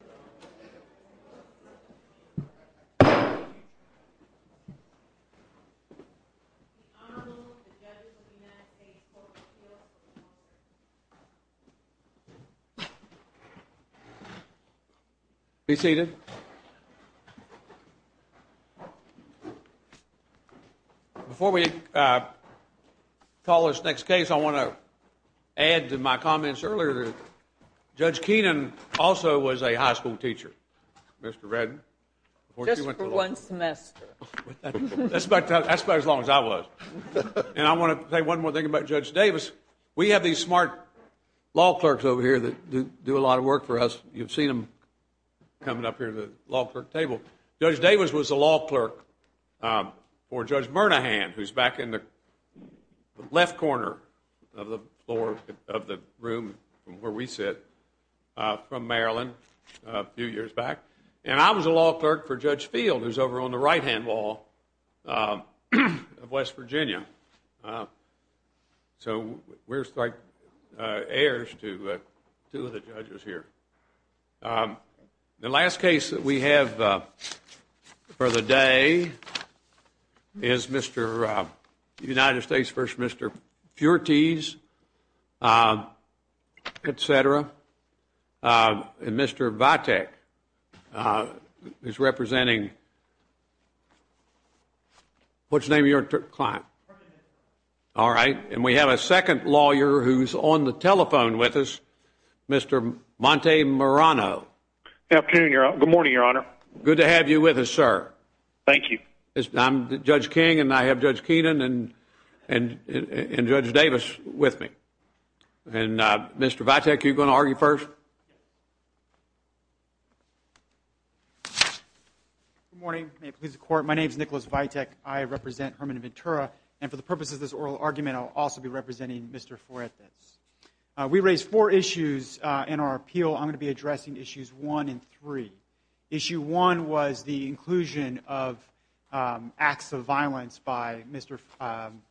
The Honorable, the Judge of the United States Court of Appeals. Be seated. Before we call this next case, I want to add to my comments earlier that Judge Keenan also was a high school teacher. Mr. Redden? Just for one semester. That's about as long as I was. And I want to say one more thing about Judge Davis. We have these smart law clerks over here that do a lot of work for us. You've seen them coming up here to the law clerk table. Judge Davis was a law clerk for Judge Bernahan, who's back in the left corner of the floor, of the room where we sit, from Maryland a few years back. And I was a law clerk for Judge Field, who's over on the right-hand wall of West Virginia. So we're like heirs to two of the judges here. The last case that we have for the day is Mr. United States v. Mr. Fuertes, etc. And Mr. Vitek is representing, what's the name of your client? All right. And we have a second lawyer who's on the telephone with us, Mr. Montemarano. Good afternoon, Your Honor. Good morning, Your Honor. Good to have you with us, sir. Thank you. I'm Judge King, and I have Judge Keenan and Judge Davis with me. And Mr. Vitek, are you going to argue first? Good morning. May it please the Court, my name is Nicholas Vitek. I represent Herman and Ventura. And for the purposes of this oral argument, I'll also be representing Mr. Fuertes. We raised four issues in our appeal. I'm going to be addressing issues one and three. Issue one was the inclusion of acts of violence by Mr.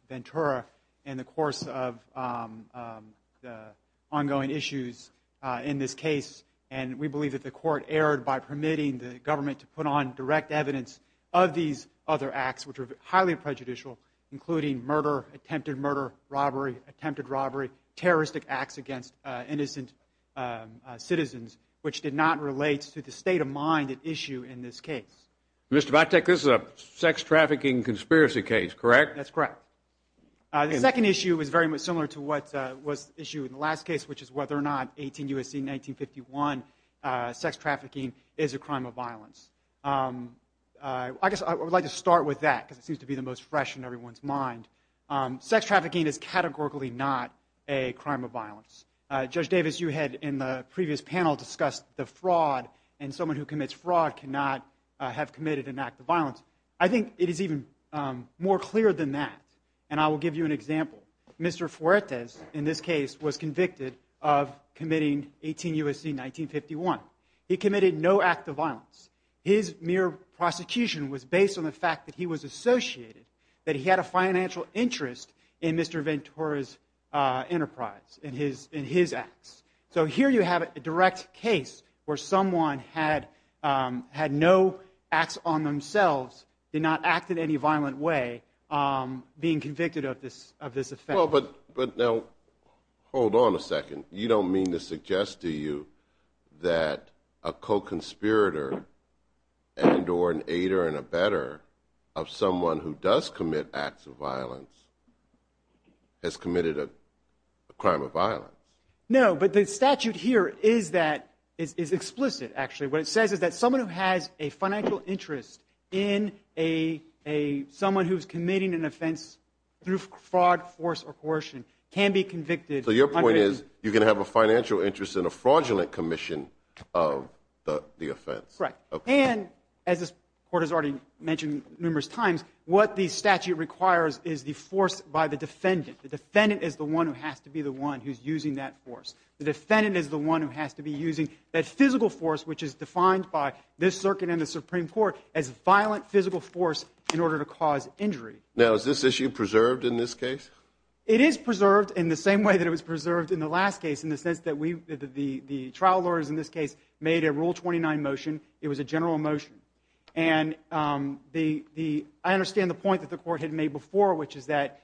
Ventura in the course of the ongoing issues in this case. And we believe that the Court erred by permitting the government to put on direct evidence of these other acts, which are highly prejudicial, including murder, attempted murder, robbery, attempted robbery, terroristic acts against innocent citizens, which did not relate to the state of mind at issue in this case. Mr. Vitek, this is a sex trafficking conspiracy case, correct? That's correct. The second issue is very much similar to what was the issue in the last case, which is whether or not 18 U.S.C. 1951 sex trafficking is a crime of violence. I guess I would like to start with that because it seems to be the most fresh in everyone's mind. Sex trafficking is categorically not a crime of violence. Judge Davis, you had in the previous panel discussed the fraud and someone who commits fraud cannot have committed an act of violence. I think it is even more clear than that, and I will give you an example. Mr. Fuertes in this case was convicted of committing 18 U.S.C. 1951. He committed no act of violence. His mere prosecution was based on the fact that he was associated, that he had a financial interest in Mr. Ventura's enterprise, in his acts. So here you have a direct case where someone had no acts on themselves, did not act in any violent way, being convicted of this offense. But now hold on a second. You don't mean to suggest to you that a co-conspirator and or an aider and abetter of someone who does commit acts of violence has committed a crime of violence? No, but the statute here is explicit, actually. What it says is that someone who has a financial interest in someone who is committing an offense through fraud, force, or coercion can be convicted. So your point is you can have a financial interest in a fraudulent commission of the offense. That's correct. And as this Court has already mentioned numerous times, what the statute requires is the force by the defendant. The defendant is the one who has to be the one who's using that force. The defendant is the one who has to be using that physical force, which is defined by this Circuit and the Supreme Court, as violent physical force in order to cause injury. Now is this issue preserved in this case? It is preserved in the same way that it was preserved in the last case, in the sense that the trial lawyers in this case made a Rule 29 motion. It was a general motion. And I understand the point that the Court had made before, which is that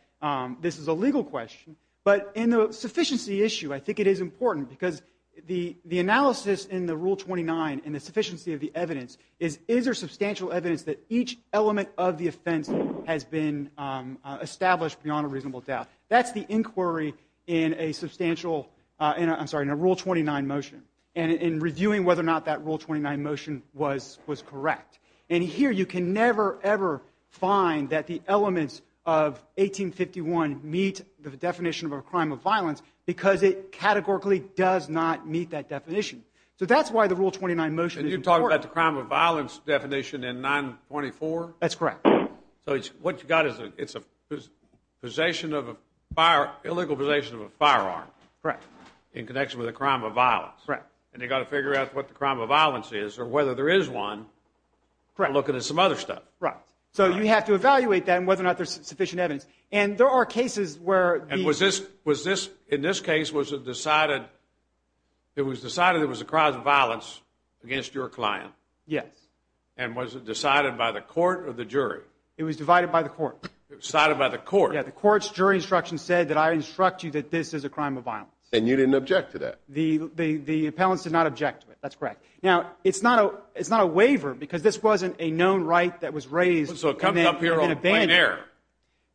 this is a legal question. But in the sufficiency issue, I think it is important, because the analysis in the Rule 29 in the sufficiency of the evidence is, is there substantial evidence that each element of the offense has been established beyond a reasonable doubt? That's the inquiry in a substantial – I'm sorry, in a Rule 29 motion, and in reviewing whether or not that Rule 29 motion was correct. And here you can never, ever find that the elements of 1851 meet the definition of a crime of violence because it categorically does not meet that definition. So that's why the Rule 29 motion is important. And you're talking about the crime of violence definition in 924? That's correct. So what you've got is a possession of a fire – illegal possession of a firearm. Correct. In connection with a crime of violence. Correct. And you've got to figure out what the crime of violence is or whether there is one by looking at some other stuff. Correct. So you have to evaluate that and whether or not there's sufficient evidence. And there are cases where the – And was this – in this case, was it decided – it was decided there was a crime of violence against your client? Yes. And was it decided by the court or the jury? It was divided by the court. Decided by the court. Yeah, the court's jury instruction said that I instruct you that this is a crime of violence. And you didn't object to that? The appellants did not object to it. That's correct. Now, it's not a waiver because this wasn't a known right that was raised – So it comes up here on plain error.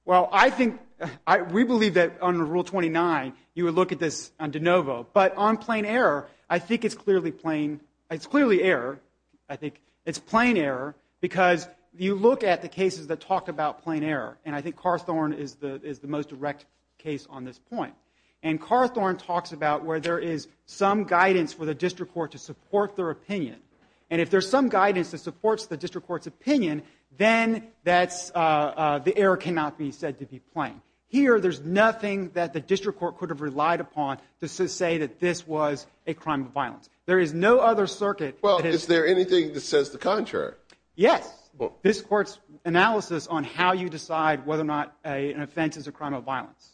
Well, I think – we believe that under Rule 29, you would look at this on de novo. But on plain error, I think it's clearly plain – it's clearly error. I think it's plain error because you look at the cases that talk about plain error. And I think Carthorne is the most direct case on this point. And Carthorne talks about where there is some guidance for the district court to support their opinion. And if there's some guidance that supports the district court's opinion, then that's – the error cannot be said to be plain. Here, there's nothing that the district court could have relied upon to say that this was a crime of violence. There is no other circuit – Well, is there anything that says the contrary? Yes. This court's analysis on how you decide whether or not an offense is a crime of violence.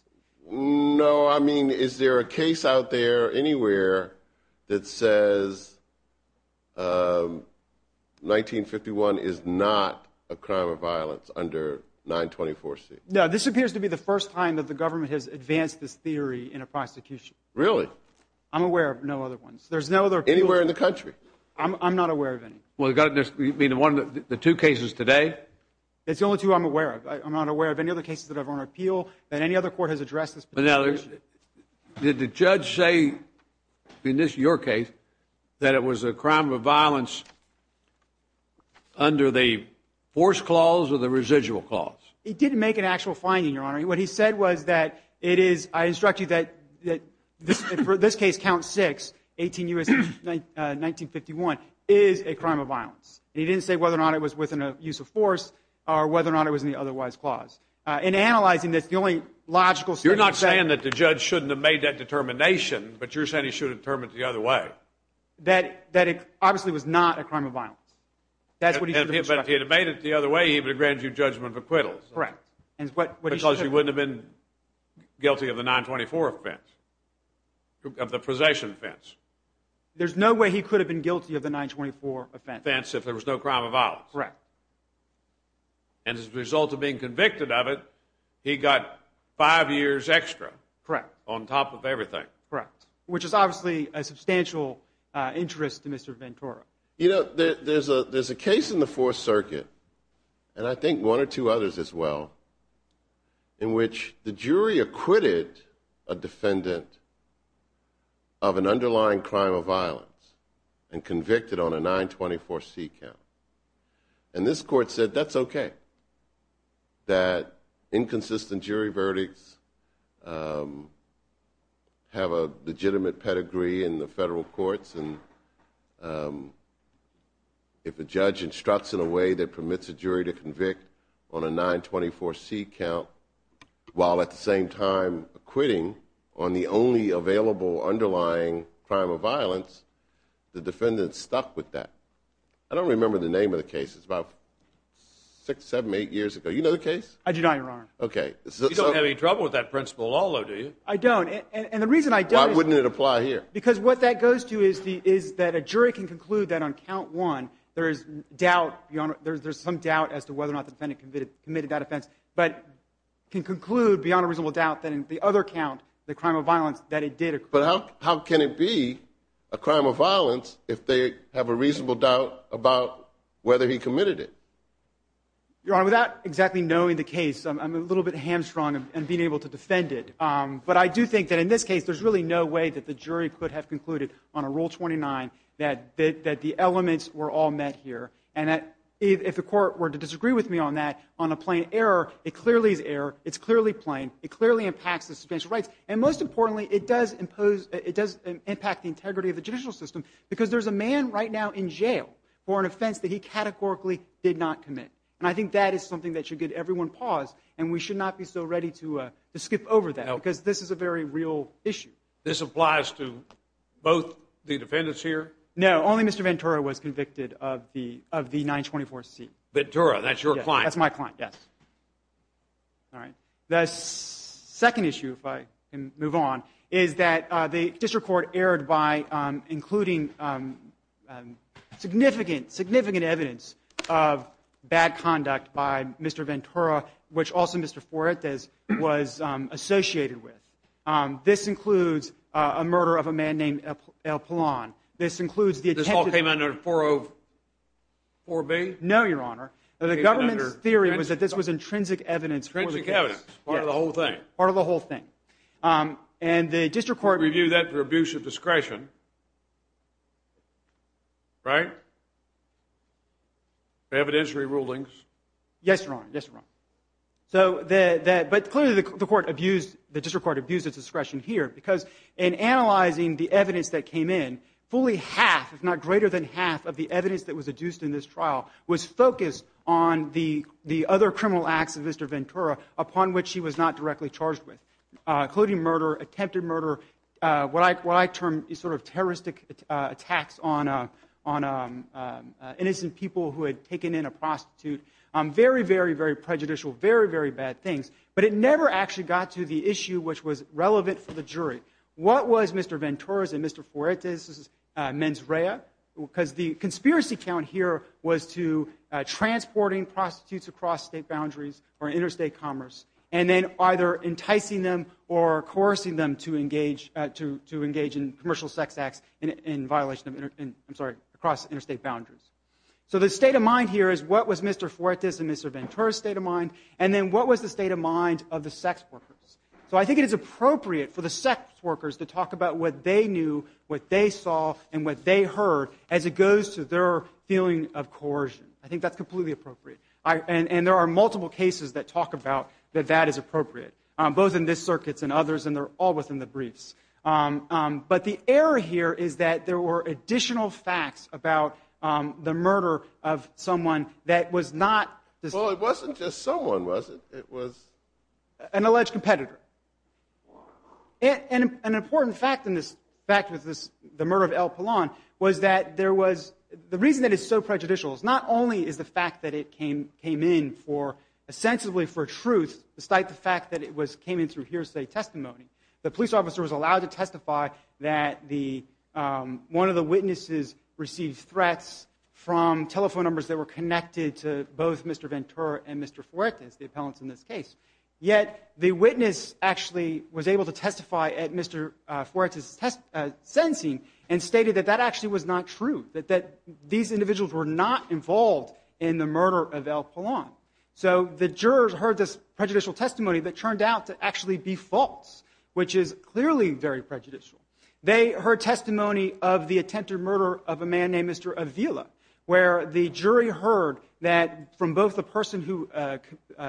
No, I mean, is there a case out there anywhere that says 1951 is not a crime of violence under 924C? No, this appears to be the first time that the government has advanced this theory in a prosecution. Really? I'm aware of no other ones. There's no other – Anywhere in the country? I'm not aware of any. Well, you mean the two cases today? It's the only two I'm aware of. I'm not aware of any other cases that are on appeal that any other court has addressed this position. Now, did the judge say in your case that it was a crime of violence under the force clause or the residual clause? He didn't make an actual finding, Your Honor. What he said was that it is – I instruct you that for this case, count six, 18 U.S., 1951, is a crime of violence. He didn't say whether or not it was within a use of force or whether or not it was in the otherwise clause. In analyzing this, the only logical – You're not saying that the judge shouldn't have made that determination, but you're saying he should have determined it the other way. That it obviously was not a crime of violence. That's what he should have instructed. But if he had made it the other way, he would have granted you judgment of acquittal. Correct. Because you wouldn't have been guilty of the 924 offense, of the possession offense. There's no way he could have been guilty of the 924 offense. Offense if there was no crime of violence. Correct. And as a result of being convicted of it, he got five years extra on top of everything. Correct. Which is obviously a substantial interest to Mr. Ventura. You know, there's a case in the Fourth Circuit, and I think one or two others as well, in which the jury acquitted a defendant of an underlying crime of violence and convicted on a 924C count. And this court said that's okay. That inconsistent jury verdicts have a legitimate pedigree in the federal courts. And if a judge instructs in a way that permits a jury to convict on a 924C count, while at the same time acquitting on the only available underlying crime of violence, the defendant's stuck with that. I don't remember the name of the case. It's about six, seven, eight years ago. You know the case? I do not, Your Honor. Okay. You don't have any trouble with that principle at all, though, do you? I don't. Why wouldn't it apply here? Because what that goes to is that a jury can conclude that on count one, there's some doubt as to whether or not the defendant committed that offense, but can conclude beyond a reasonable doubt that in the other count, the crime of violence, that it did occur. But how can it be a crime of violence if they have a reasonable doubt about whether he committed it? Your Honor, without exactly knowing the case, I'm a little bit hamstrung in being able to defend it. But I do think that in this case, there's really no way that the jury could have concluded on a Rule 29 that the elements were all met here. And if the court were to disagree with me on that, on a plain error, it clearly is error. It's clearly plain. It clearly impacts the substantial rights. And most importantly, it does impact the integrity of the judicial system because there's a man right now in jail for an offense that he categorically did not commit. And I think that is something that should get everyone paused, and we should not be so ready to skip over that because this is a very real issue. This applies to both the defendants here? No, only Mr. Ventura was convicted of the 924C. Ventura, that's your client? That's my client, yes. All right. The second issue, if I can move on, is that the district court erred by including significant evidence of bad conduct by Mr. Ventura, which also Mr. Forretas was associated with. This includes a murder of a man named El Pilon. This includes the attempted murder. This all came under 404B? No, Your Honor. The government's theory was that this was intrinsic evidence for the case. Yes, part of the whole thing. Part of the whole thing. And the district court reviewed that for abuse of discretion, right? For evidentiary rulings? Yes, Your Honor. Yes, Your Honor. But clearly the district court abused its discretion here because in analyzing the evidence that came in, fully half, if not greater than half, of the evidence that was adduced in this trial was focused on the other criminal acts of Mr. Ventura upon which he was not directly charged with, including murder, attempted murder, what I term sort of terroristic attacks on innocent people who had taken in a prostitute. Very, very, very prejudicial. Very, very bad things. But it never actually got to the issue which was relevant for the jury. What was Mr. Ventura's and Mr. Forretas' mens rea? Because the conspiracy count here was to transporting prostitutes across state boundaries or interstate commerce and then either enticing them or coercing them to engage in commercial sex acts in violation of interstate, I'm sorry, across interstate boundaries. So the state of mind here is what was Mr. Forretas' and Mr. Ventura's state of mind and then what was the state of mind of the sex workers? So I think it is appropriate for the sex workers to talk about what they knew, what they saw, and what they heard as it goes to their feeling of coercion. I think that's completely appropriate. And there are multiple cases that talk about that that is appropriate, both in this circuit and others, and they're all within the briefs. But the error here is that there were additional facts about the murder of someone that was not. Well, it wasn't just someone, was it? It was an alleged competitor. And an important fact in this fact was the murder of Al Pilon was that there was the reason that it's so prejudicial is not only is the fact that it came in for, sensibly for truth, despite the fact that it came in through hearsay testimony. The police officer was allowed to testify that one of the witnesses received threats from telephone numbers that were connected to both Mr. Ventura and Mr. Forretas, the appellants in this case. Yet the witness actually was able to testify at Mr. Forretas' sentencing and stated that that actually was not true, that these individuals were not involved in the murder of Al Pilon. So the jurors heard this prejudicial testimony that turned out to actually be false, which is clearly very prejudicial. They heard testimony of the attempted murder of a man named Mr. Avila, where the jury heard that from both the person who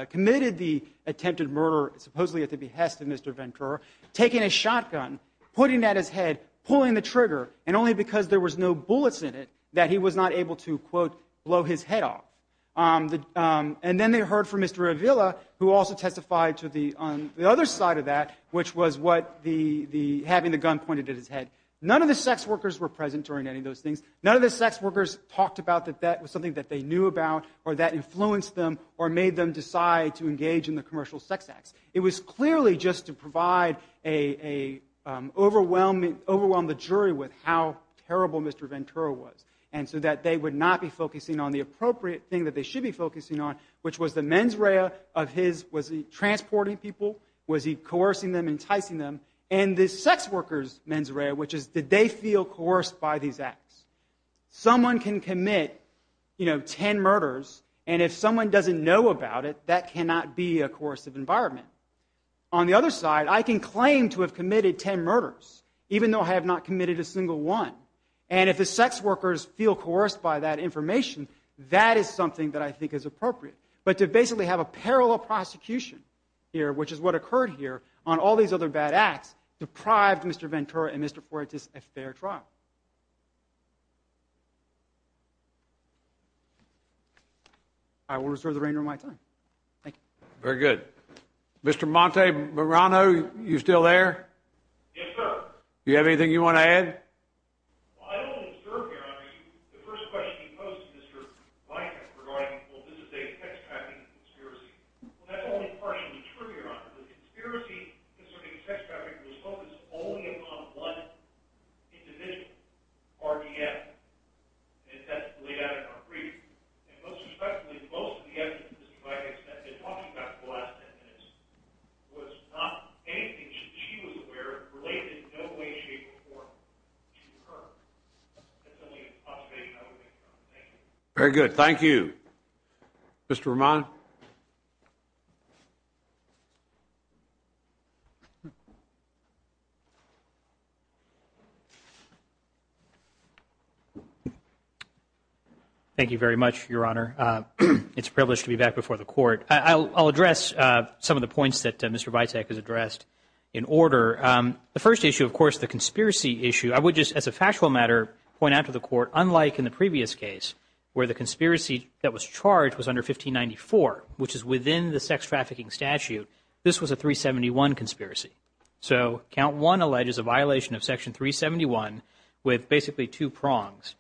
committed the attempted murder, supposedly at the behest of Mr. Ventura, taking a shotgun, pointing at his head, pulling the trigger, and only because there was no bullets in it, that he was not able to, quote, blow his head off. And then they heard from Mr. Avila, who also testified to the other side of that, which was having the gun pointed at his head. None of the sex workers were present during any of those things. None of the sex workers talked about that that was something that they knew about or that influenced them or made them decide to engage in the commercial sex acts. It was clearly just to provide a overwhelming jury with how terrible Mr. Ventura was, and so that they would not be focusing on the appropriate thing that they should be focusing on, which was the mens rea of his, was he transporting people? Was he coercing them, enticing them? And the sex workers' mens rea, which is did they feel coerced by these acts? Someone can commit, you know, 10 murders, and if someone doesn't know about it, that cannot be a coercive environment. On the other side, I can claim to have committed 10 murders, even though I have not committed a single one, and if the sex workers feel coerced by that information, that is something that I think is appropriate. But to basically have a parallel prosecution here, which is what occurred here on all these other bad acts, deprived Mr. Ventura and Mr. Fuentes a fair trial. I will reserve the remainder of my time. Thank you. Very good. Mr. Monte Morano, are you still there? Yes, sir. Do you have anything you want to add? Well, I don't want to disturb you. I mean, the first question you posed to Mr. Blanken regarding, well, this is a sex trafficking conspiracy. Well, that's only partially true, Your Honor. The conspiracy concerning sex trafficking was focused only upon one individual, RDF, and that's laid out in our brief. And most respectfully, most of the evidence that Mr. Blanken has been talking about for the last 10 minutes was not anything she was aware of, related in no way, shape, or form to her. That's the only observation I would make, Your Honor. Very good. Thank you. Mr. Roman? Thank you very much, Your Honor. It's a privilege to be back before the Court. I'll address some of the points that Mr. Vitak has addressed in order. The first issue, of course, the conspiracy issue, I would just as a factual matter point out to the Court, unlike in the previous case where the conspiracy that was charged was under 1594, which is within the sex trafficking statute, this was a 371 conspiracy. So Count 1 alleges a violation of Section 371 with basically two prongs,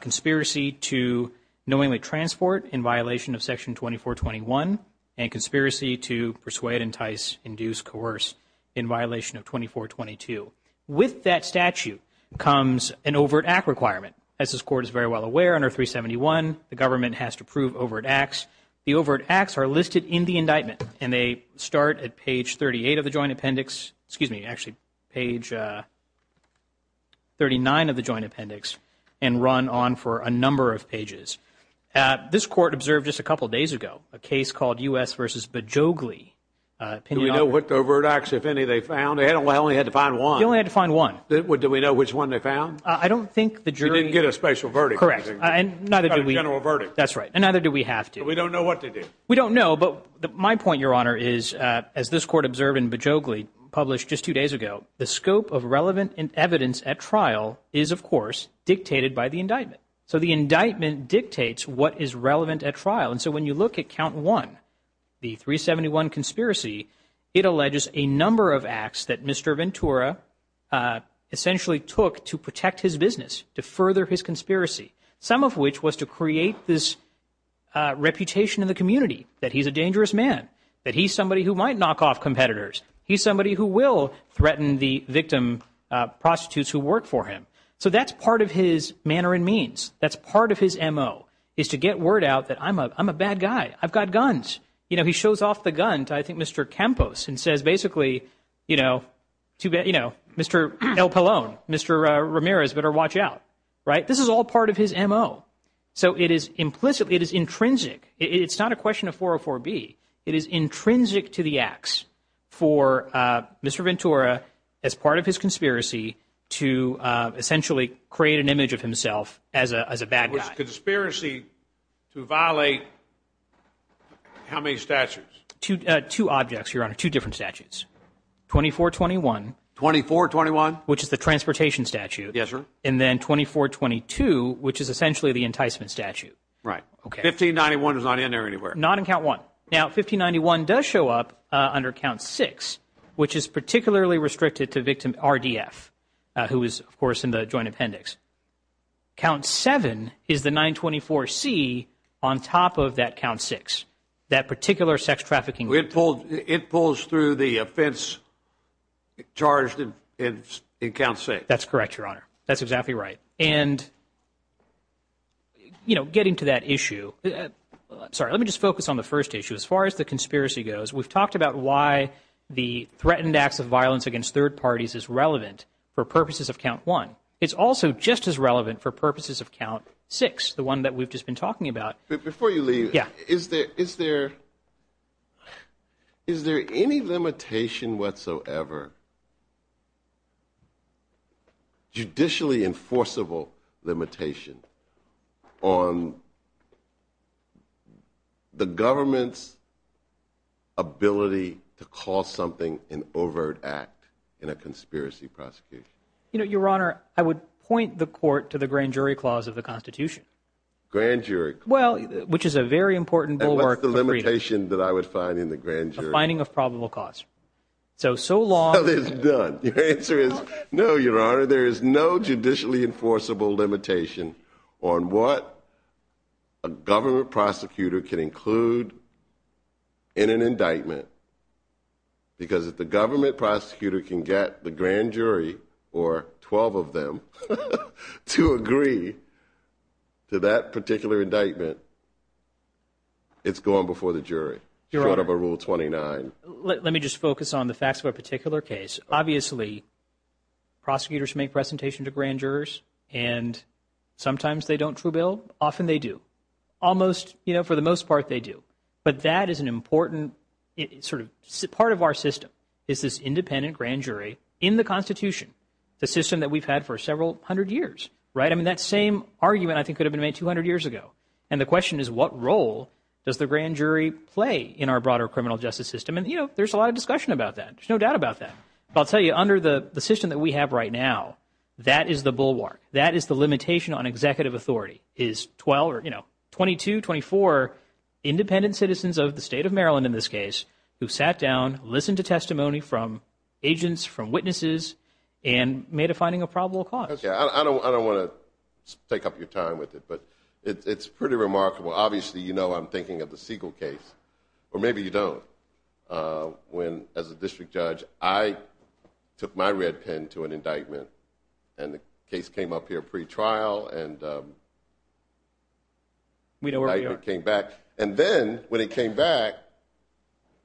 conspiracy to knowingly transport in violation of Section 2421 and conspiracy to persuade, entice, induce, coerce in violation of 2422. With that statute comes an overt act requirement. As this Court is very well aware, under 371, the government has to approve overt acts. The overt acts are listed in the indictment, and they start at page 38 of the Joint Appendix, excuse me, actually page 39 of the Joint Appendix, and run on for a number of pages. This Court observed just a couple of days ago a case called U.S. v. Bejoghli. Do we know what overt acts, if any, they found? They only had to find one. They only had to find one. Do we know which one they found? I don't think the jury – They didn't get a special verdict. Correct. Not a general verdict. That's right. And neither do we have to. We don't know what they did. We don't know, but my point, Your Honor, is as this Court observed in Bejoghli published just two days ago, the scope of relevant evidence at trial is, of course, dictated by the indictment. So the indictment dictates what is relevant at trial. And so when you look at Count 1, the 371 conspiracy, it alleges a number of acts that Mr. Ventura essentially took to protect his business, to further his conspiracy, some of which was to create this reputation in the community, that he's a dangerous man, that he's somebody who might knock off competitors. He's somebody who will threaten the victim prostitutes who work for him. So that's part of his manner and means. That's part of his M.O., is to get word out that I'm a bad guy. I've got guns. You know, he shows off the gun to, I think, Mr. Campos, and says basically, you know, Mr. El Pallone, Mr. Ramirez, better watch out. Right? This is all part of his M.O. So it is implicitly, it is intrinsic. It's not a question of 404B. It is intrinsic to the acts for Mr. Ventura as part of his conspiracy to essentially create an image of himself as a bad guy. Conspiracy to violate how many statutes? Two objects, Your Honor, two different statutes. 2421. 2421? Which is the transportation statute. Yes, sir. And then 2422, which is essentially the enticement statute. Right. Okay. 1591 is not in there anywhere. Not in Count 1. Now, 1591 does show up under Count 6, which is particularly restricted to victim RDF, who is, of course, in the Joint Appendix. Count 7 is the 924C on top of that Count 6, that particular sex trafficking. It pulls through the offense charged in Count 6. That's correct, Your Honor. That's exactly right. And, you know, getting to that issue, sorry, let me just focus on the first issue. As far as the conspiracy goes, we've talked about why the threatened acts of violence against third parties is relevant for purposes of Count 1. It's also just as relevant for purposes of Count 6, the one that we've just been talking about. Before you leave, is there any limitation whatsoever, judicially enforceable limitation, on the government's ability to call something an overt act in a conspiracy prosecution? You know, Your Honor, I would point the court to the Grand Jury Clause of the Constitution. Grand Jury Clause. Well, which is a very important bulwark for freedom. And what's the limitation that I would find in the Grand Jury? A finding of probable cause. So, so long... So, it's done. Your answer is, no, Your Honor, there is no judicially enforceable limitation on what a government prosecutor can include in an indictment, because if the government prosecutor can get the grand jury, or 12 of them, to agree to that particular indictment, it's gone before the jury. Your Honor... Short of a Rule 29. Let me just focus on the facts of a particular case. Obviously, prosecutors make presentations to grand jurors, and sometimes they don't true bill. Often they do. Almost, you know, for the most part, they do. But that is an important sort of part of our system, is this independent grand jury in the Constitution, the system that we've had for several hundred years, right? I mean, that same argument, I think, could have been made 200 years ago. And the question is, what role does the grand jury play in our broader criminal justice system? And, you know, there's a lot of discussion about that. There's no doubt about that. But I'll tell you, under the system that we have right now, that is the bulwark. That is the limitation on executive authority, or, you know, 22, 24 independent citizens of the state of Maryland, in this case, who sat down, listened to testimony from agents, from witnesses, and made a finding of probable cause. Okay, I don't want to take up your time with it, but it's pretty remarkable. Obviously, you know I'm thinking of the Siegel case, or maybe you don't, when, as a district judge, I took my red pen to an indictment, and the case came up here pre-trial, and the indictment came back. And then, when it came back,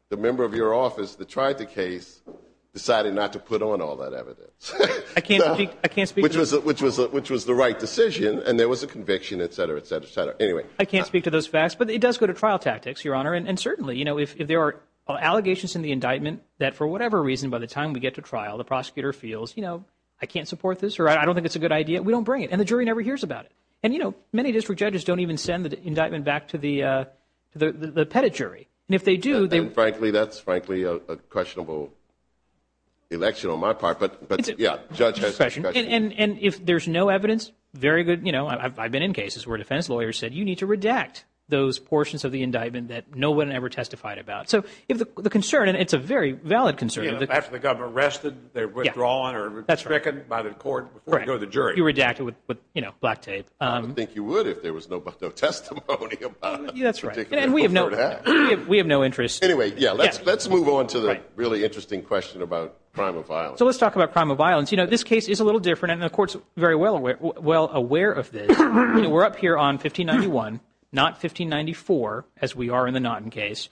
the member of your office that tried the case decided not to put on all that evidence. I can't speak to that. Which was the right decision, and there was a conviction, et cetera, et cetera, et cetera. Anyway. I can't speak to those facts, but it does go to trial tactics, Your Honor. And certainly, you know, if there are allegations in the indictment that for whatever reason, by the time we get to trial, the prosecutor feels, you know, I can't support this, or I don't think it's a good idea, we don't bring it. And the jury never hears about it. And, you know, many district judges don't even send the indictment back to the pettit jury. And if they do, they... And, frankly, that's, frankly, a questionable election on my part. But, yeah, judge has discretion. And if there's no evidence, very good, you know, I've been in cases where defense lawyers said, you need to redact those portions of the indictment that no one ever testified about. So the concern, and it's a very valid concern... After the government arrested, they're withdrawn or stricken by the court before you go to the jury. You redact it with, you know, black tape. I don't think you would if there was no testimony about it. That's right. And we have no interest. Anyway, yeah, let's move on to the really interesting question about crime of violence. So let's talk about crime of violence. You know, this case is a little different, and the court's very well aware of this. You know, we're up here on 1591, not 1594, as we are in the Naughton case.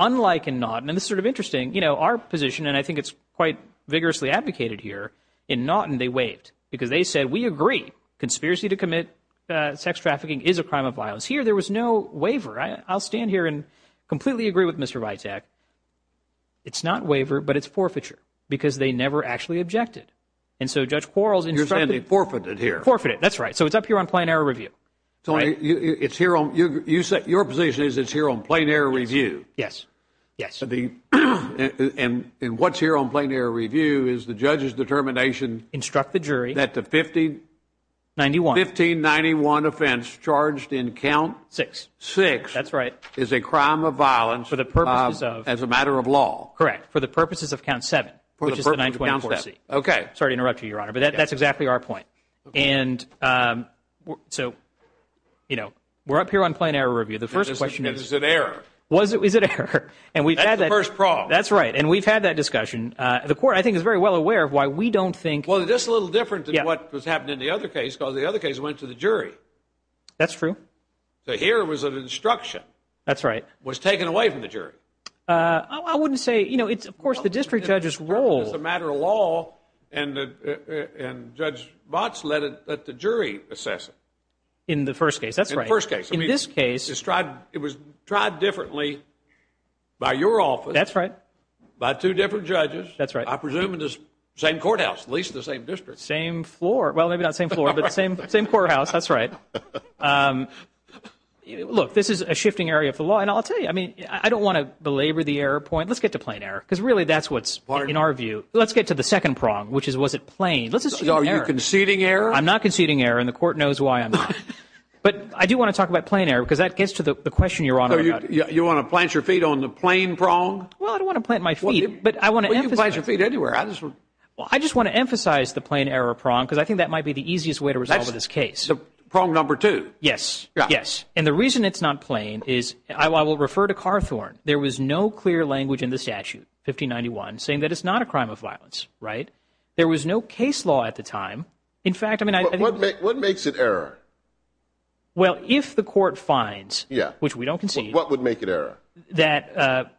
Unlike in Naughton, and this is sort of interesting, you know, our position, and I think it's quite vigorously advocated here, in Naughton they waived because they said, we agree, conspiracy to commit sex trafficking is a crime of violence. Here there was no waiver. I'll stand here and completely agree with Mr. Vitak. It's not waiver, but it's forfeiture because they never actually objected. And so Judge Quarles instructed... You're saying they forfeited here. Forfeited, that's right. So it's up here on plain error review. So it's here on... Your position is it's here on plain error review. Yes, yes. And what's here on plain error review is the judge's determination... Instruct the jury... That the 1591 offense charged in count... Six. Six. That's right. Is a crime of violence... For the purposes of... As a matter of law. Correct, for the purposes of count seven, which is the 924C. Okay. Sorry to interrupt you, Your Honor, but that's exactly our point. And so, you know, we're up here on plain error review. The first question is... Is it error? Is it error? Is it error? And we've had that... That's the first problem. That's right. And we've had that discussion. The court, I think, is very well aware of why we don't think... Well, it's just a little different than what was happening in the other case, because the other case went to the jury. That's true. So here was an instruction. That's right. Was taken away from the jury. I wouldn't say, you know, it's, of course, the district judge's role. It's a matter of law, and Judge Botts let the jury assess it. In the first case, that's right. In the first case. In this case... In this case, it was tried differently by your office. That's right. By two different judges. That's right. I presume in the same courthouse, at least the same district. Same floor. Well, maybe not the same floor, but the same courthouse. That's right. Look, this is a shifting area of the law. And I'll tell you, I mean, I don't want to belabor the error point. Let's get to plain error, because really that's what's in our view. Let's get to the second prong, which is was it plain? Let's assume error. Are you conceding error? I'm not conceding error, and the court knows why I'm not. But I do want to talk about plain error, because that gets to the question you're on about. You want to plant your feet on the plain prong? Well, I don't want to plant my feet, but I want to emphasize... Well, you can plant your feet anywhere. Well, I just want to emphasize the plain error prong, because I think that might be the easiest way to resolve this case. That's the prong number two. Yes. Yes. And the reason it's not plain is, I will refer to Carthorne, there was no clear language in the statute, 1591, saying that it's not a crime of violence, right? There was no case law at the time. In fact, I mean, I think... But what makes it error? Well, if the court finds, which we don't concede... What would make it error? That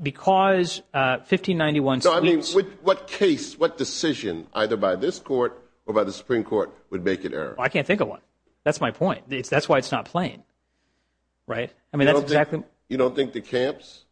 because 1591... No, I mean, what case, what decision, either by this court or by the Supreme Court, would make it error? I can't think of one. That's my point. That's why it's not plain, right? I mean, that's exactly... You don't think the camps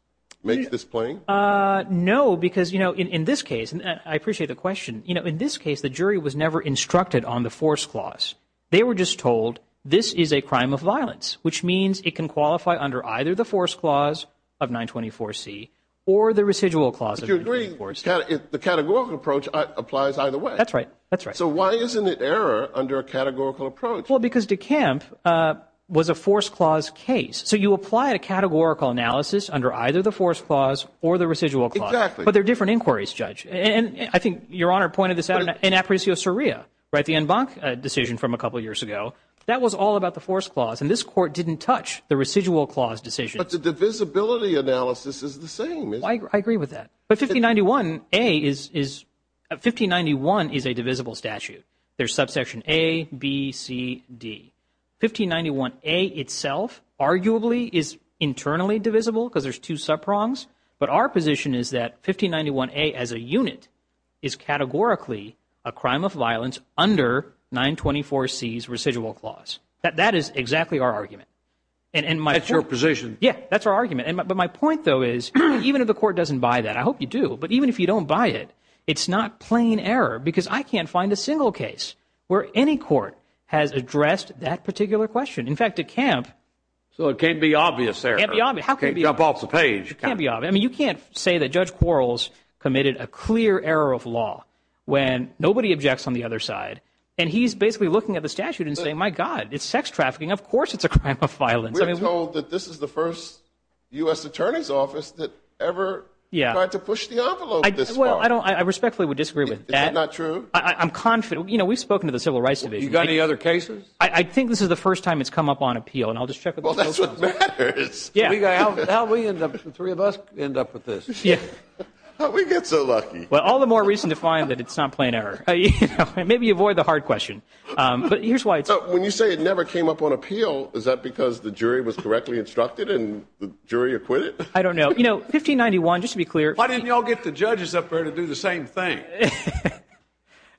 make this plain? No, because, you know, in this case, and I appreciate the question, you know, in this case, the jury was never instructed on the force clause. They were just told, this is a crime of violence, which means it can qualify under either the force clause of 924C or the residual clause of 924C. The categorical approach applies either way. That's right. That's right. So why isn't it error under a categorical approach? Well, because De Kamp was a force clause case. So you apply a categorical analysis under either the force clause or the residual clause. Exactly. But they're different inquiries, Judge. And I think Your Honor pointed this out in Apricio Soria, right, the en banc decision from a couple years ago. That was all about the force clause, and this Court didn't touch the residual clause decision. But the divisibility analysis is the same. I agree with that. But 1591A is a divisible statute. There's subsection A, B, C, D. 1591A itself arguably is internally divisible because there's two subprongs, but our position is that 1591A as a unit is categorically a crime of violence under 924C's residual clause. That is exactly our argument. That's your position. Yeah, that's our argument. But my point, though, is even if the Court doesn't buy that, I hope you do, but even if you don't buy it, it's not plain error because I can't find a single case where any court has addressed that particular question. In fact, De Kamp ---- So it can't be obvious there. It can't be obvious. Okay, jump off the page. It can't be obvious. I mean, you can't say that Judge Quarles committed a clear error of law when nobody objects on the other side, and he's basically looking at the statute and saying, my God, it's sex trafficking. Of course it's a crime of violence. We're told that this is the first U.S. Attorney's Office that ever tried to push the envelope this far. Well, I respectfully would disagree with that. Is it not true? I'm confident. You know, we've spoken to the Civil Rights Division. You got any other cases? I think this is the first time it's come up on appeal, and I'll just check with the local office. Well, that's what matters. Yeah. How did the three of us end up with this? How did we get so lucky? Well, all the more reason to find that it's not plain error. Maybe avoid the hard question. But here's why it's hard. When you say it never came up on appeal, is that because the jury was correctly instructed and the jury acquitted? I don't know. You know, 1591, just to be clear ---- Why didn't you all get the judges up there to do the same thing?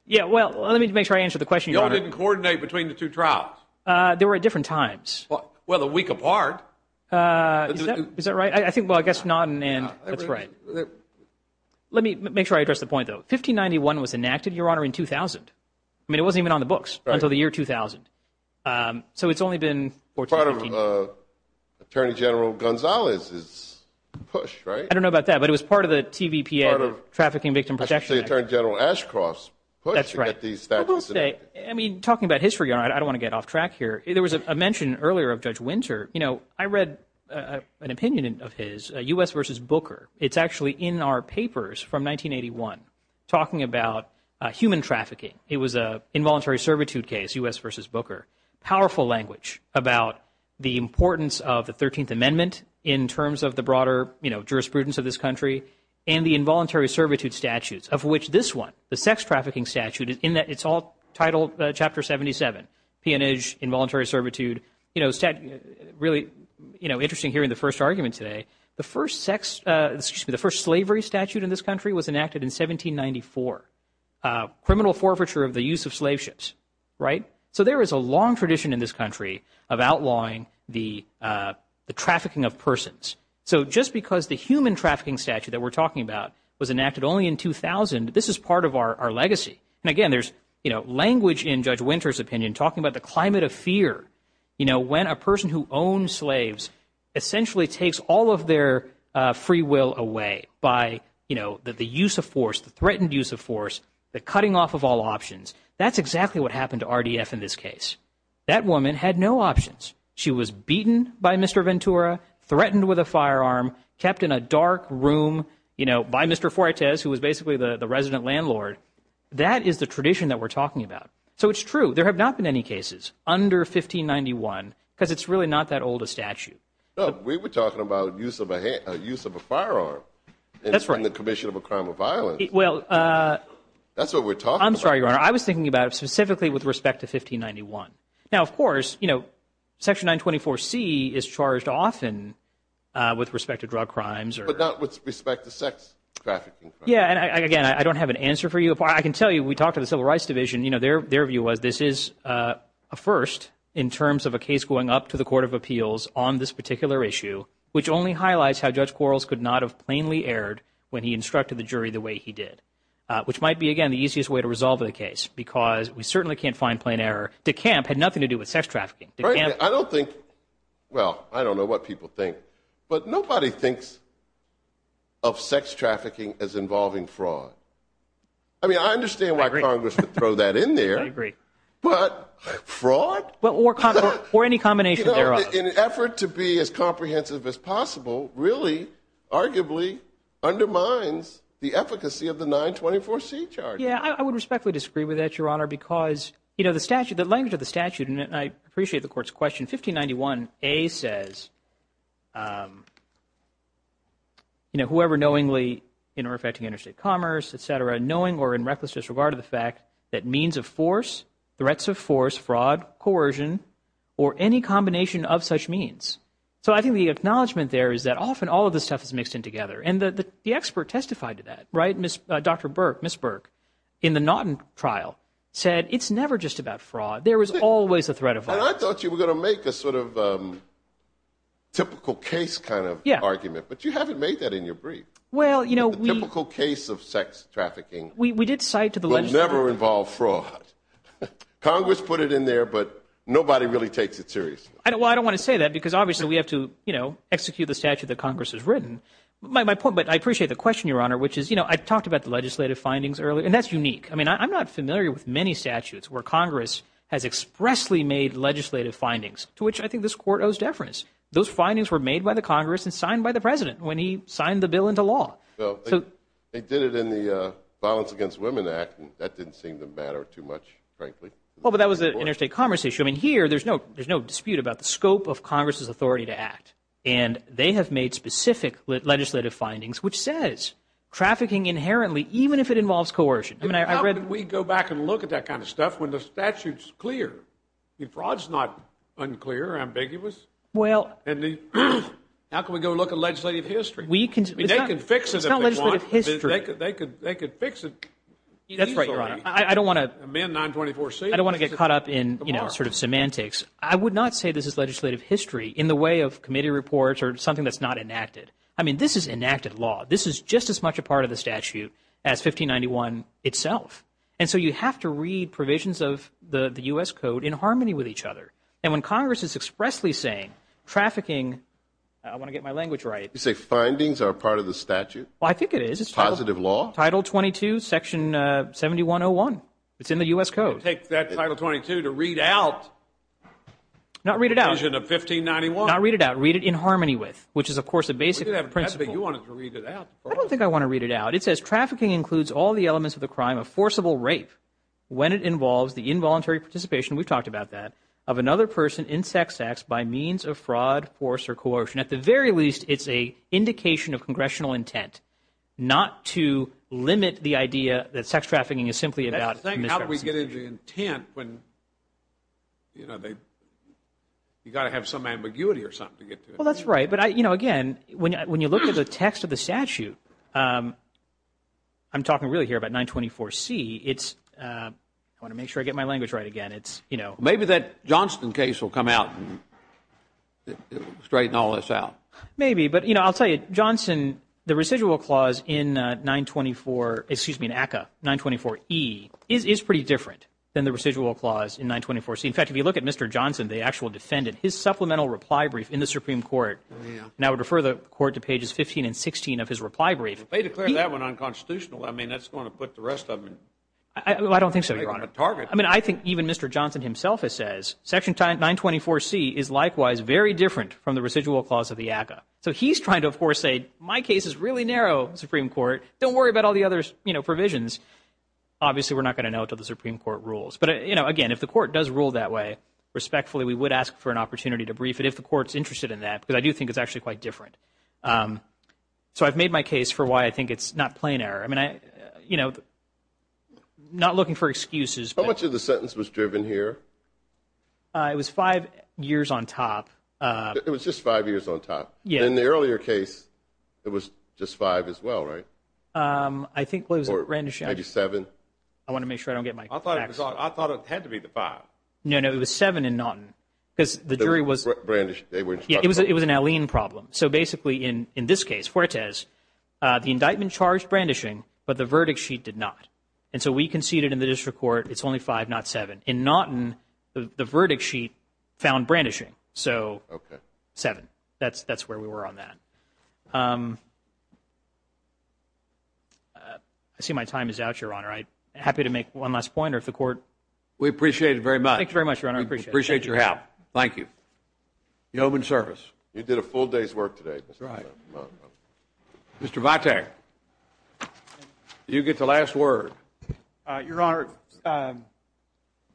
Yeah, well, let me make sure I answer the question, Your Honor. You all didn't coordinate between the two trials? They were at different times. Well, a week apart. Is that right? I think, well, I guess not, and that's right. Let me make sure I address the point, though. 1591 was enacted, Your Honor, in 2000. I mean, it wasn't even on the books until the year 2000. So it's only been 14, 15. Part of Attorney General Gonzalez's push, right? I don't know about that, but it was part of the TVPA, the Trafficking Victim Protection Act. Part of Attorney General Ashcroft's push to get these statutes enacted. That's right. I mean, talking about history, Your Honor, I don't want to get off track here. There was a mention earlier of Judge Winter. You know, I read an opinion of his, U.S. v. Booker. It's actually in our papers from 1981, talking about human trafficking. It was an involuntary servitude case, U.S. v. Booker. Powerful language about the importance of the 13th Amendment in terms of the broader, you know, jurisprudence of this country and the involuntary servitude statutes, of which this one, the sex trafficking statute, in that it's all titled Chapter 77, peonage, involuntary servitude. You know, really, you know, interesting hearing the first argument today. The first sex, excuse me, the first slavery statute in this country was enacted in 1794, criminal forfeiture of the use of slave ships, right? So there is a long tradition in this country of outlawing the trafficking of persons. So just because the human trafficking statute that we're talking about was enacted only in 2000, this is part of our legacy. And again, there's, you know, language in Judge Winter's opinion talking about the climate of fear, you know, when a person who owns slaves essentially takes all of their free will away by, you know, the use of force, the threatened use of force, the cutting off of all options. That's exactly what happened to RDF in this case. That woman had no options. She was beaten by Mr. Ventura, threatened with a firearm, kept in a dark room, you know, by Mr. Fuertes, who was basically the resident landlord. That is the tradition that we're talking about. So it's true. There have not been any cases under 1591 because it's really not that old a statute. We were talking about use of a firearm. That's right. In the commission of a crime of violence. Well, that's what we're talking about. I'm sorry, Your Honor. I was thinking about it specifically with respect to 1591. Now, of course, you know, Section 924C is charged often with respect to drug crimes. But not with respect to sex trafficking. Yeah, and, again, I don't have an answer for you. I can tell you, we talked to the Civil Rights Division. You know, their view was this is a first in terms of a case going up to the Court of Appeals on this particular issue, which only highlights how Judge Quarles could not have plainly erred when he instructed the jury the way he did, which might be, again, the easiest way to resolve the case because we certainly can't find plain error. De Camp had nothing to do with sex trafficking. I don't think, well, I don't know what people think. But nobody thinks of sex trafficking as involving fraud. I mean, I understand why Congress would throw that in there. I agree. But fraud? Or any combination thereof. In an effort to be as comprehensive as possible really arguably undermines the efficacy of the 924C charge. Yeah, I would respectfully disagree with that, Your Honor, because, you know, the statute, the language of the statute, and I appreciate the Court's question, 1591A says, you know, whoever knowingly in or affecting interstate commerce, et cetera, knowing or in reckless disregard of the fact that means of force, threats of force, fraud, coercion, or any combination of such means. So I think the acknowledgment there is that often all of this stuff is mixed in together. And the expert testified to that, right? Dr. Burke, Ms. Burke, in the Naughton trial said it's never just about fraud. There is always a threat of fraud. And I thought you were going to make a sort of typical case kind of argument. But you haven't made that in your brief. Well, you know, we – A typical case of sex trafficking will never involve fraud. Congress put it in there, but nobody really takes it seriously. Well, I don't want to say that because obviously we have to, you know, execute the statute that Congress has written. But I appreciate the question, Your Honor, which is, you know, I talked about the legislative findings earlier, and that's unique. I mean, I'm not familiar with many statutes where Congress has expressly made legislative findings, to which I think this Court owes deference. Those findings were made by the Congress and signed by the President when he signed the bill into law. Well, they did it in the Violence Against Women Act, and that didn't seem to matter too much, frankly. Well, but that was an interstate commerce issue. I mean, here there's no dispute about the scope of Congress's authority to act. And they have made specific legislative findings which says trafficking inherently, even if it involves coercion. I mean, I read – How can we go back and look at that kind of stuff when the statute's clear? The fraud's not unclear or ambiguous. Well – How can we go look at legislative history? They can fix it if they want. It's not legislative history. They could fix it easily. That's right, Your Honor. I don't want to – Amend 924C. I don't want to get caught up in, you know, sort of semantics. I would not say this is legislative history in the way of committee reports or something that's not enacted. I mean, this is enacted law. This is just as much a part of the statute as 1591 itself. And so you have to read provisions of the U.S. Code in harmony with each other. And when Congress is expressly saying trafficking – I want to get my language right. You say findings are a part of the statute? Well, I think it is. It's positive law? Title 22, Section 7101. It's in the U.S. Code. Take that Title 22 to read out the provision of 1591. Not read it out. Read it in harmony with, which is, of course, a basic principle. But you wanted to read it out. I don't think I want to read it out. It says, Trafficking includes all the elements of the crime of forcible rape when it involves the involuntary participation – we've talked about that – of another person in sex acts by means of fraud, force, or coercion. At the very least, it's an indication of congressional intent not to limit the idea that sex trafficking is simply about misdemeanor. That's the thing. How do we get into intent when, you know, you've got to have some ambiguity or something to get to it? Well, that's right. But, you know, again, when you look at the text of the statute, I'm talking really here about 924C. I want to make sure I get my language right again. Maybe that Johnson case will come out and straighten all this out. Maybe. But, you know, I'll tell you, Johnson, the residual clause in 924E is pretty different than the residual clause in 924C. In fact, if you look at Mr. Johnson, the actual defendant, his supplemental reply brief in the Supreme Court, and I would refer the Court to pages 15 and 16 of his reply brief. If they declare that one unconstitutional, I mean, that's going to put the rest of them on a target. I don't think so, Your Honor. I mean, I think even Mr. Johnson himself has said, Section 924C is likewise very different from the residual clause of the ACCA. So he's trying to, of course, say, my case is really narrow, Supreme Court. Don't worry about all the other, you know, provisions. Obviously, we're not going to know until the Supreme Court rules. But, you know, again, if the Court does rule that way, respectfully, we would ask for an opportunity to brief it, if the Court's interested in that, because I do think it's actually quite different. So I've made my case for why I think it's not plain error. I mean, you know, not looking for excuses. How much of the sentence was driven here? It was five years on top. It was just five years on top? Yeah. In the earlier case, it was just five as well, right? I think it was a rendition. Maybe seven. I want to make sure I don't get my facts wrong. I thought it had to be the five. No, no, it was seven in Naughton. Because the jury was – Brandishing. It was an Alene problem. So basically, in this case, Fuertes, the indictment charged brandishing, but the verdict sheet did not. And so we conceded in the district court it's only five, not seven. In Naughton, the verdict sheet found brandishing. So seven. That's where we were on that. I see my time is out, Your Honor. I'm happy to make one last point, or if the court – We appreciate it very much. Thank you very much, Your Honor. I appreciate it. We appreciate your help. Thank you. You owe him in service. You did a full day's work today, Mr. Chairman. Right. Mr. Votar, you get the last word. Your Honor,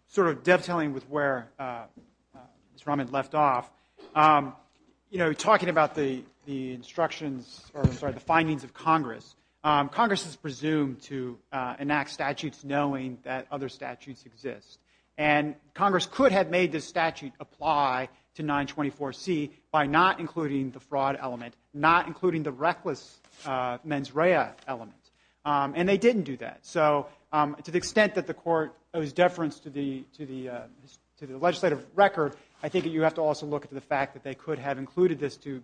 sort of dovetailing with where Mr. Rahman left off, you know, talking about the instructions or, I'm sorry, the findings of Congress, Congress is presumed to enact statutes knowing that other statutes exist. And Congress could have made this statute apply to 924C by not including the fraud element, not including the reckless mens rea element. And they didn't do that. So to the extent that the court owes deference to the legislative record, I think you have to also look at the fact that they could have included this to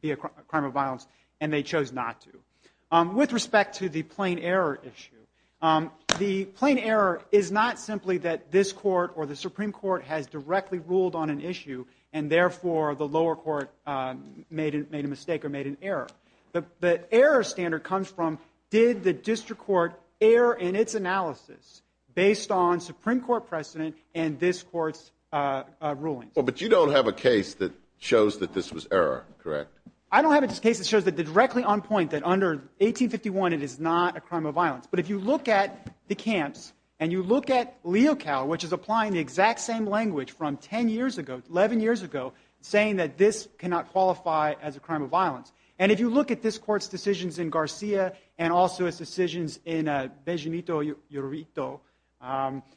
be a crime of violence, and they chose not to. With respect to the plain error issue, the plain error is not simply that this court or the Supreme Court has directly ruled on an issue and therefore the lower court made a mistake or made an error. The error standard comes from did the district court err in its analysis based on Supreme Court precedent and this court's rulings? But you don't have a case that shows that this was error, correct? I don't have a case that shows that they're directly on point that under 1851 it is not a crime of violence. But if you look at the camps and you look at Leocal, which is applying the exact same language from 10 years ago, 11 years ago, saying that this cannot qualify as a crime of violence, and if you look at this court's decisions in Garcia and also its decisions in Benginito,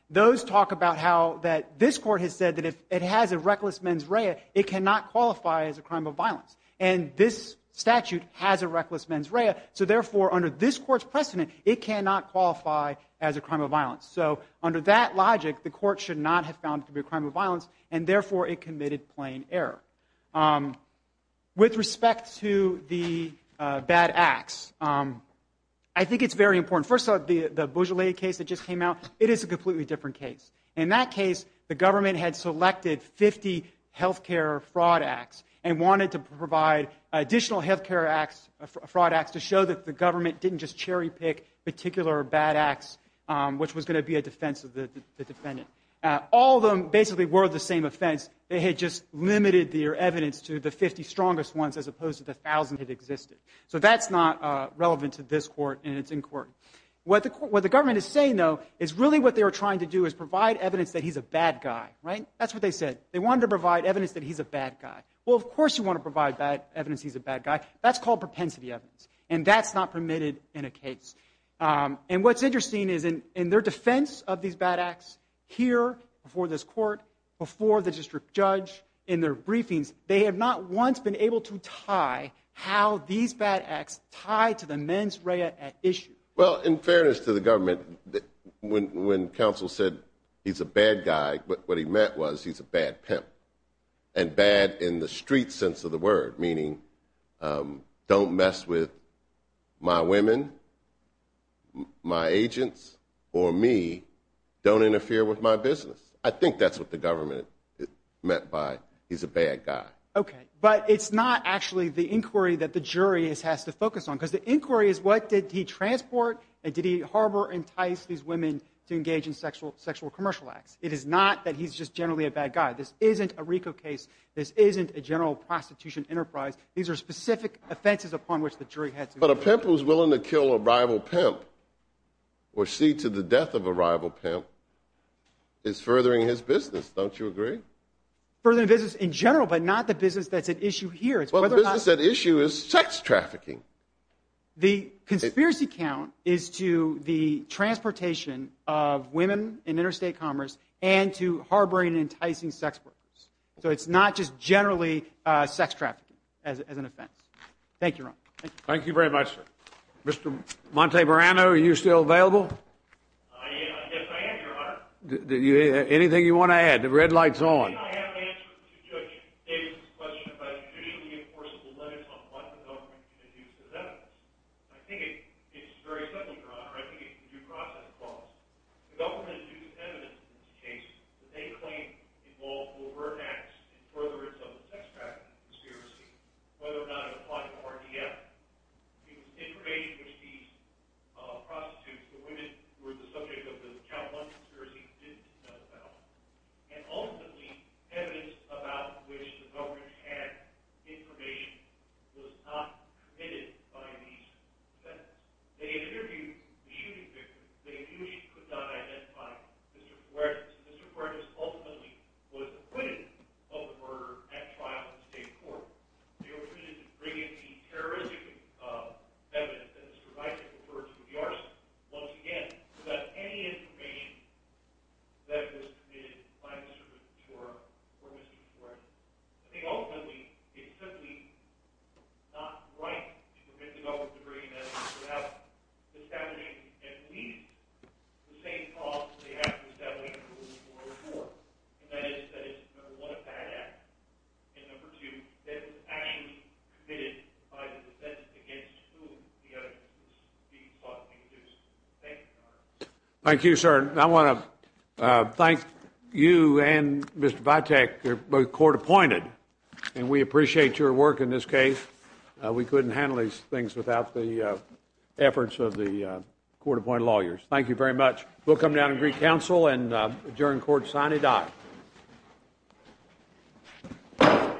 those talk about how this court has said that if it has a reckless mens rea, it cannot qualify as a crime of violence. And this statute has a reckless mens rea, so therefore under this court's precedent it cannot qualify as a crime of violence. So under that logic the court should not have found it to be a crime of violence and therefore it committed plain error. With respect to the bad acts, I think it's very important. First of all, the Beaujolais case that just came out, it is a completely different case. In that case the government had selected 50 health care fraud acts and wanted to provide additional health care fraud acts to show that the government didn't just cherry pick particular bad acts, which was going to be a defense of the defendant. All of them basically were the same offense, they had just limited their evidence to the 50 strongest ones as opposed to the 1,000 that existed. What the government is saying, though, is really what they were trying to do is provide evidence that he's a bad guy. That's what they said. They wanted to provide evidence that he's a bad guy. Well, of course you want to provide evidence he's a bad guy. That's called propensity evidence, and that's not permitted in a case. And what's interesting is in their defense of these bad acts, here before this court, before the district judge, in their briefings, they have not once been able to tie how these bad acts tie to the mens rea at issue. Well, in fairness to the government, when counsel said he's a bad guy, what he meant was he's a bad pimp, and bad in the street sense of the word, meaning don't mess with my women, my agents, or me. Don't interfere with my business. I think that's what the government meant by he's a bad guy. Okay, but it's not actually the inquiry that the jury has to focus on because the inquiry is what did he transport and did he harbor or entice these women to engage in sexual commercial acts. It is not that he's just generally a bad guy. This isn't a RICO case. This isn't a general prostitution enterprise. These are specific offenses upon which the jury has to focus. But a pimp who's willing to kill a rival pimp or see to the death of a rival pimp is furthering his business. Don't you agree? Furthering business in general but not the business that's at issue here. Well, the business at issue is sex trafficking. The conspiracy count is to the transportation of women in interstate commerce and to harboring and enticing sex workers. So it's not just generally sex trafficking as an offense. Thank you, Ron. Thank you very much, sir. Mr. Montebrano, are you still available? Yes, I am, Your Honor. Anything you want to add? The red light's on. I think I have an answer to Judge Davis' question about judicially enforceable limits on what the government can do to them. I think it's very simple, Your Honor. I think it's due process clause. The government has used evidence in this case that they claim involved overt acts in furtherance of the sex trafficking conspiracy, whether or not it applied to RDF. It was information which these prostitutes, the women, who were the subject of the count one conspiracy, didn't know about. And ultimately, evidence about which the government had information was not committed by these defendants. They interviewed the shooting victims. They knew she could not identify Mr. Fuertes. Mr. Fuertes ultimately was acquitted of the murder at trial in the state court. They were permitted to bring in any terroristic evidence that Mr. Bicek referred to in the arson, once again, without any information that was committed by Mr. Fuertes or Mr. Fuertes. I think ultimately, it's simply not right to forbid the government to bring in evidence without establishing at least the same clause that they have to establish in Rule 404, and that is that it's, number one, a bad act, and number two, that it was actually committed by the defendants against whom the evidence was being sought to be produced. Thank you, Your Honor. Thank you, sir. And I want to thank you and Mr. Bicek. You're both court-appointed, and we appreciate your work in this case. We couldn't handle these things without the efforts of the court-appointed lawyers. Thank you very much. We'll come down and greet counsel and adjourn court. Signing off.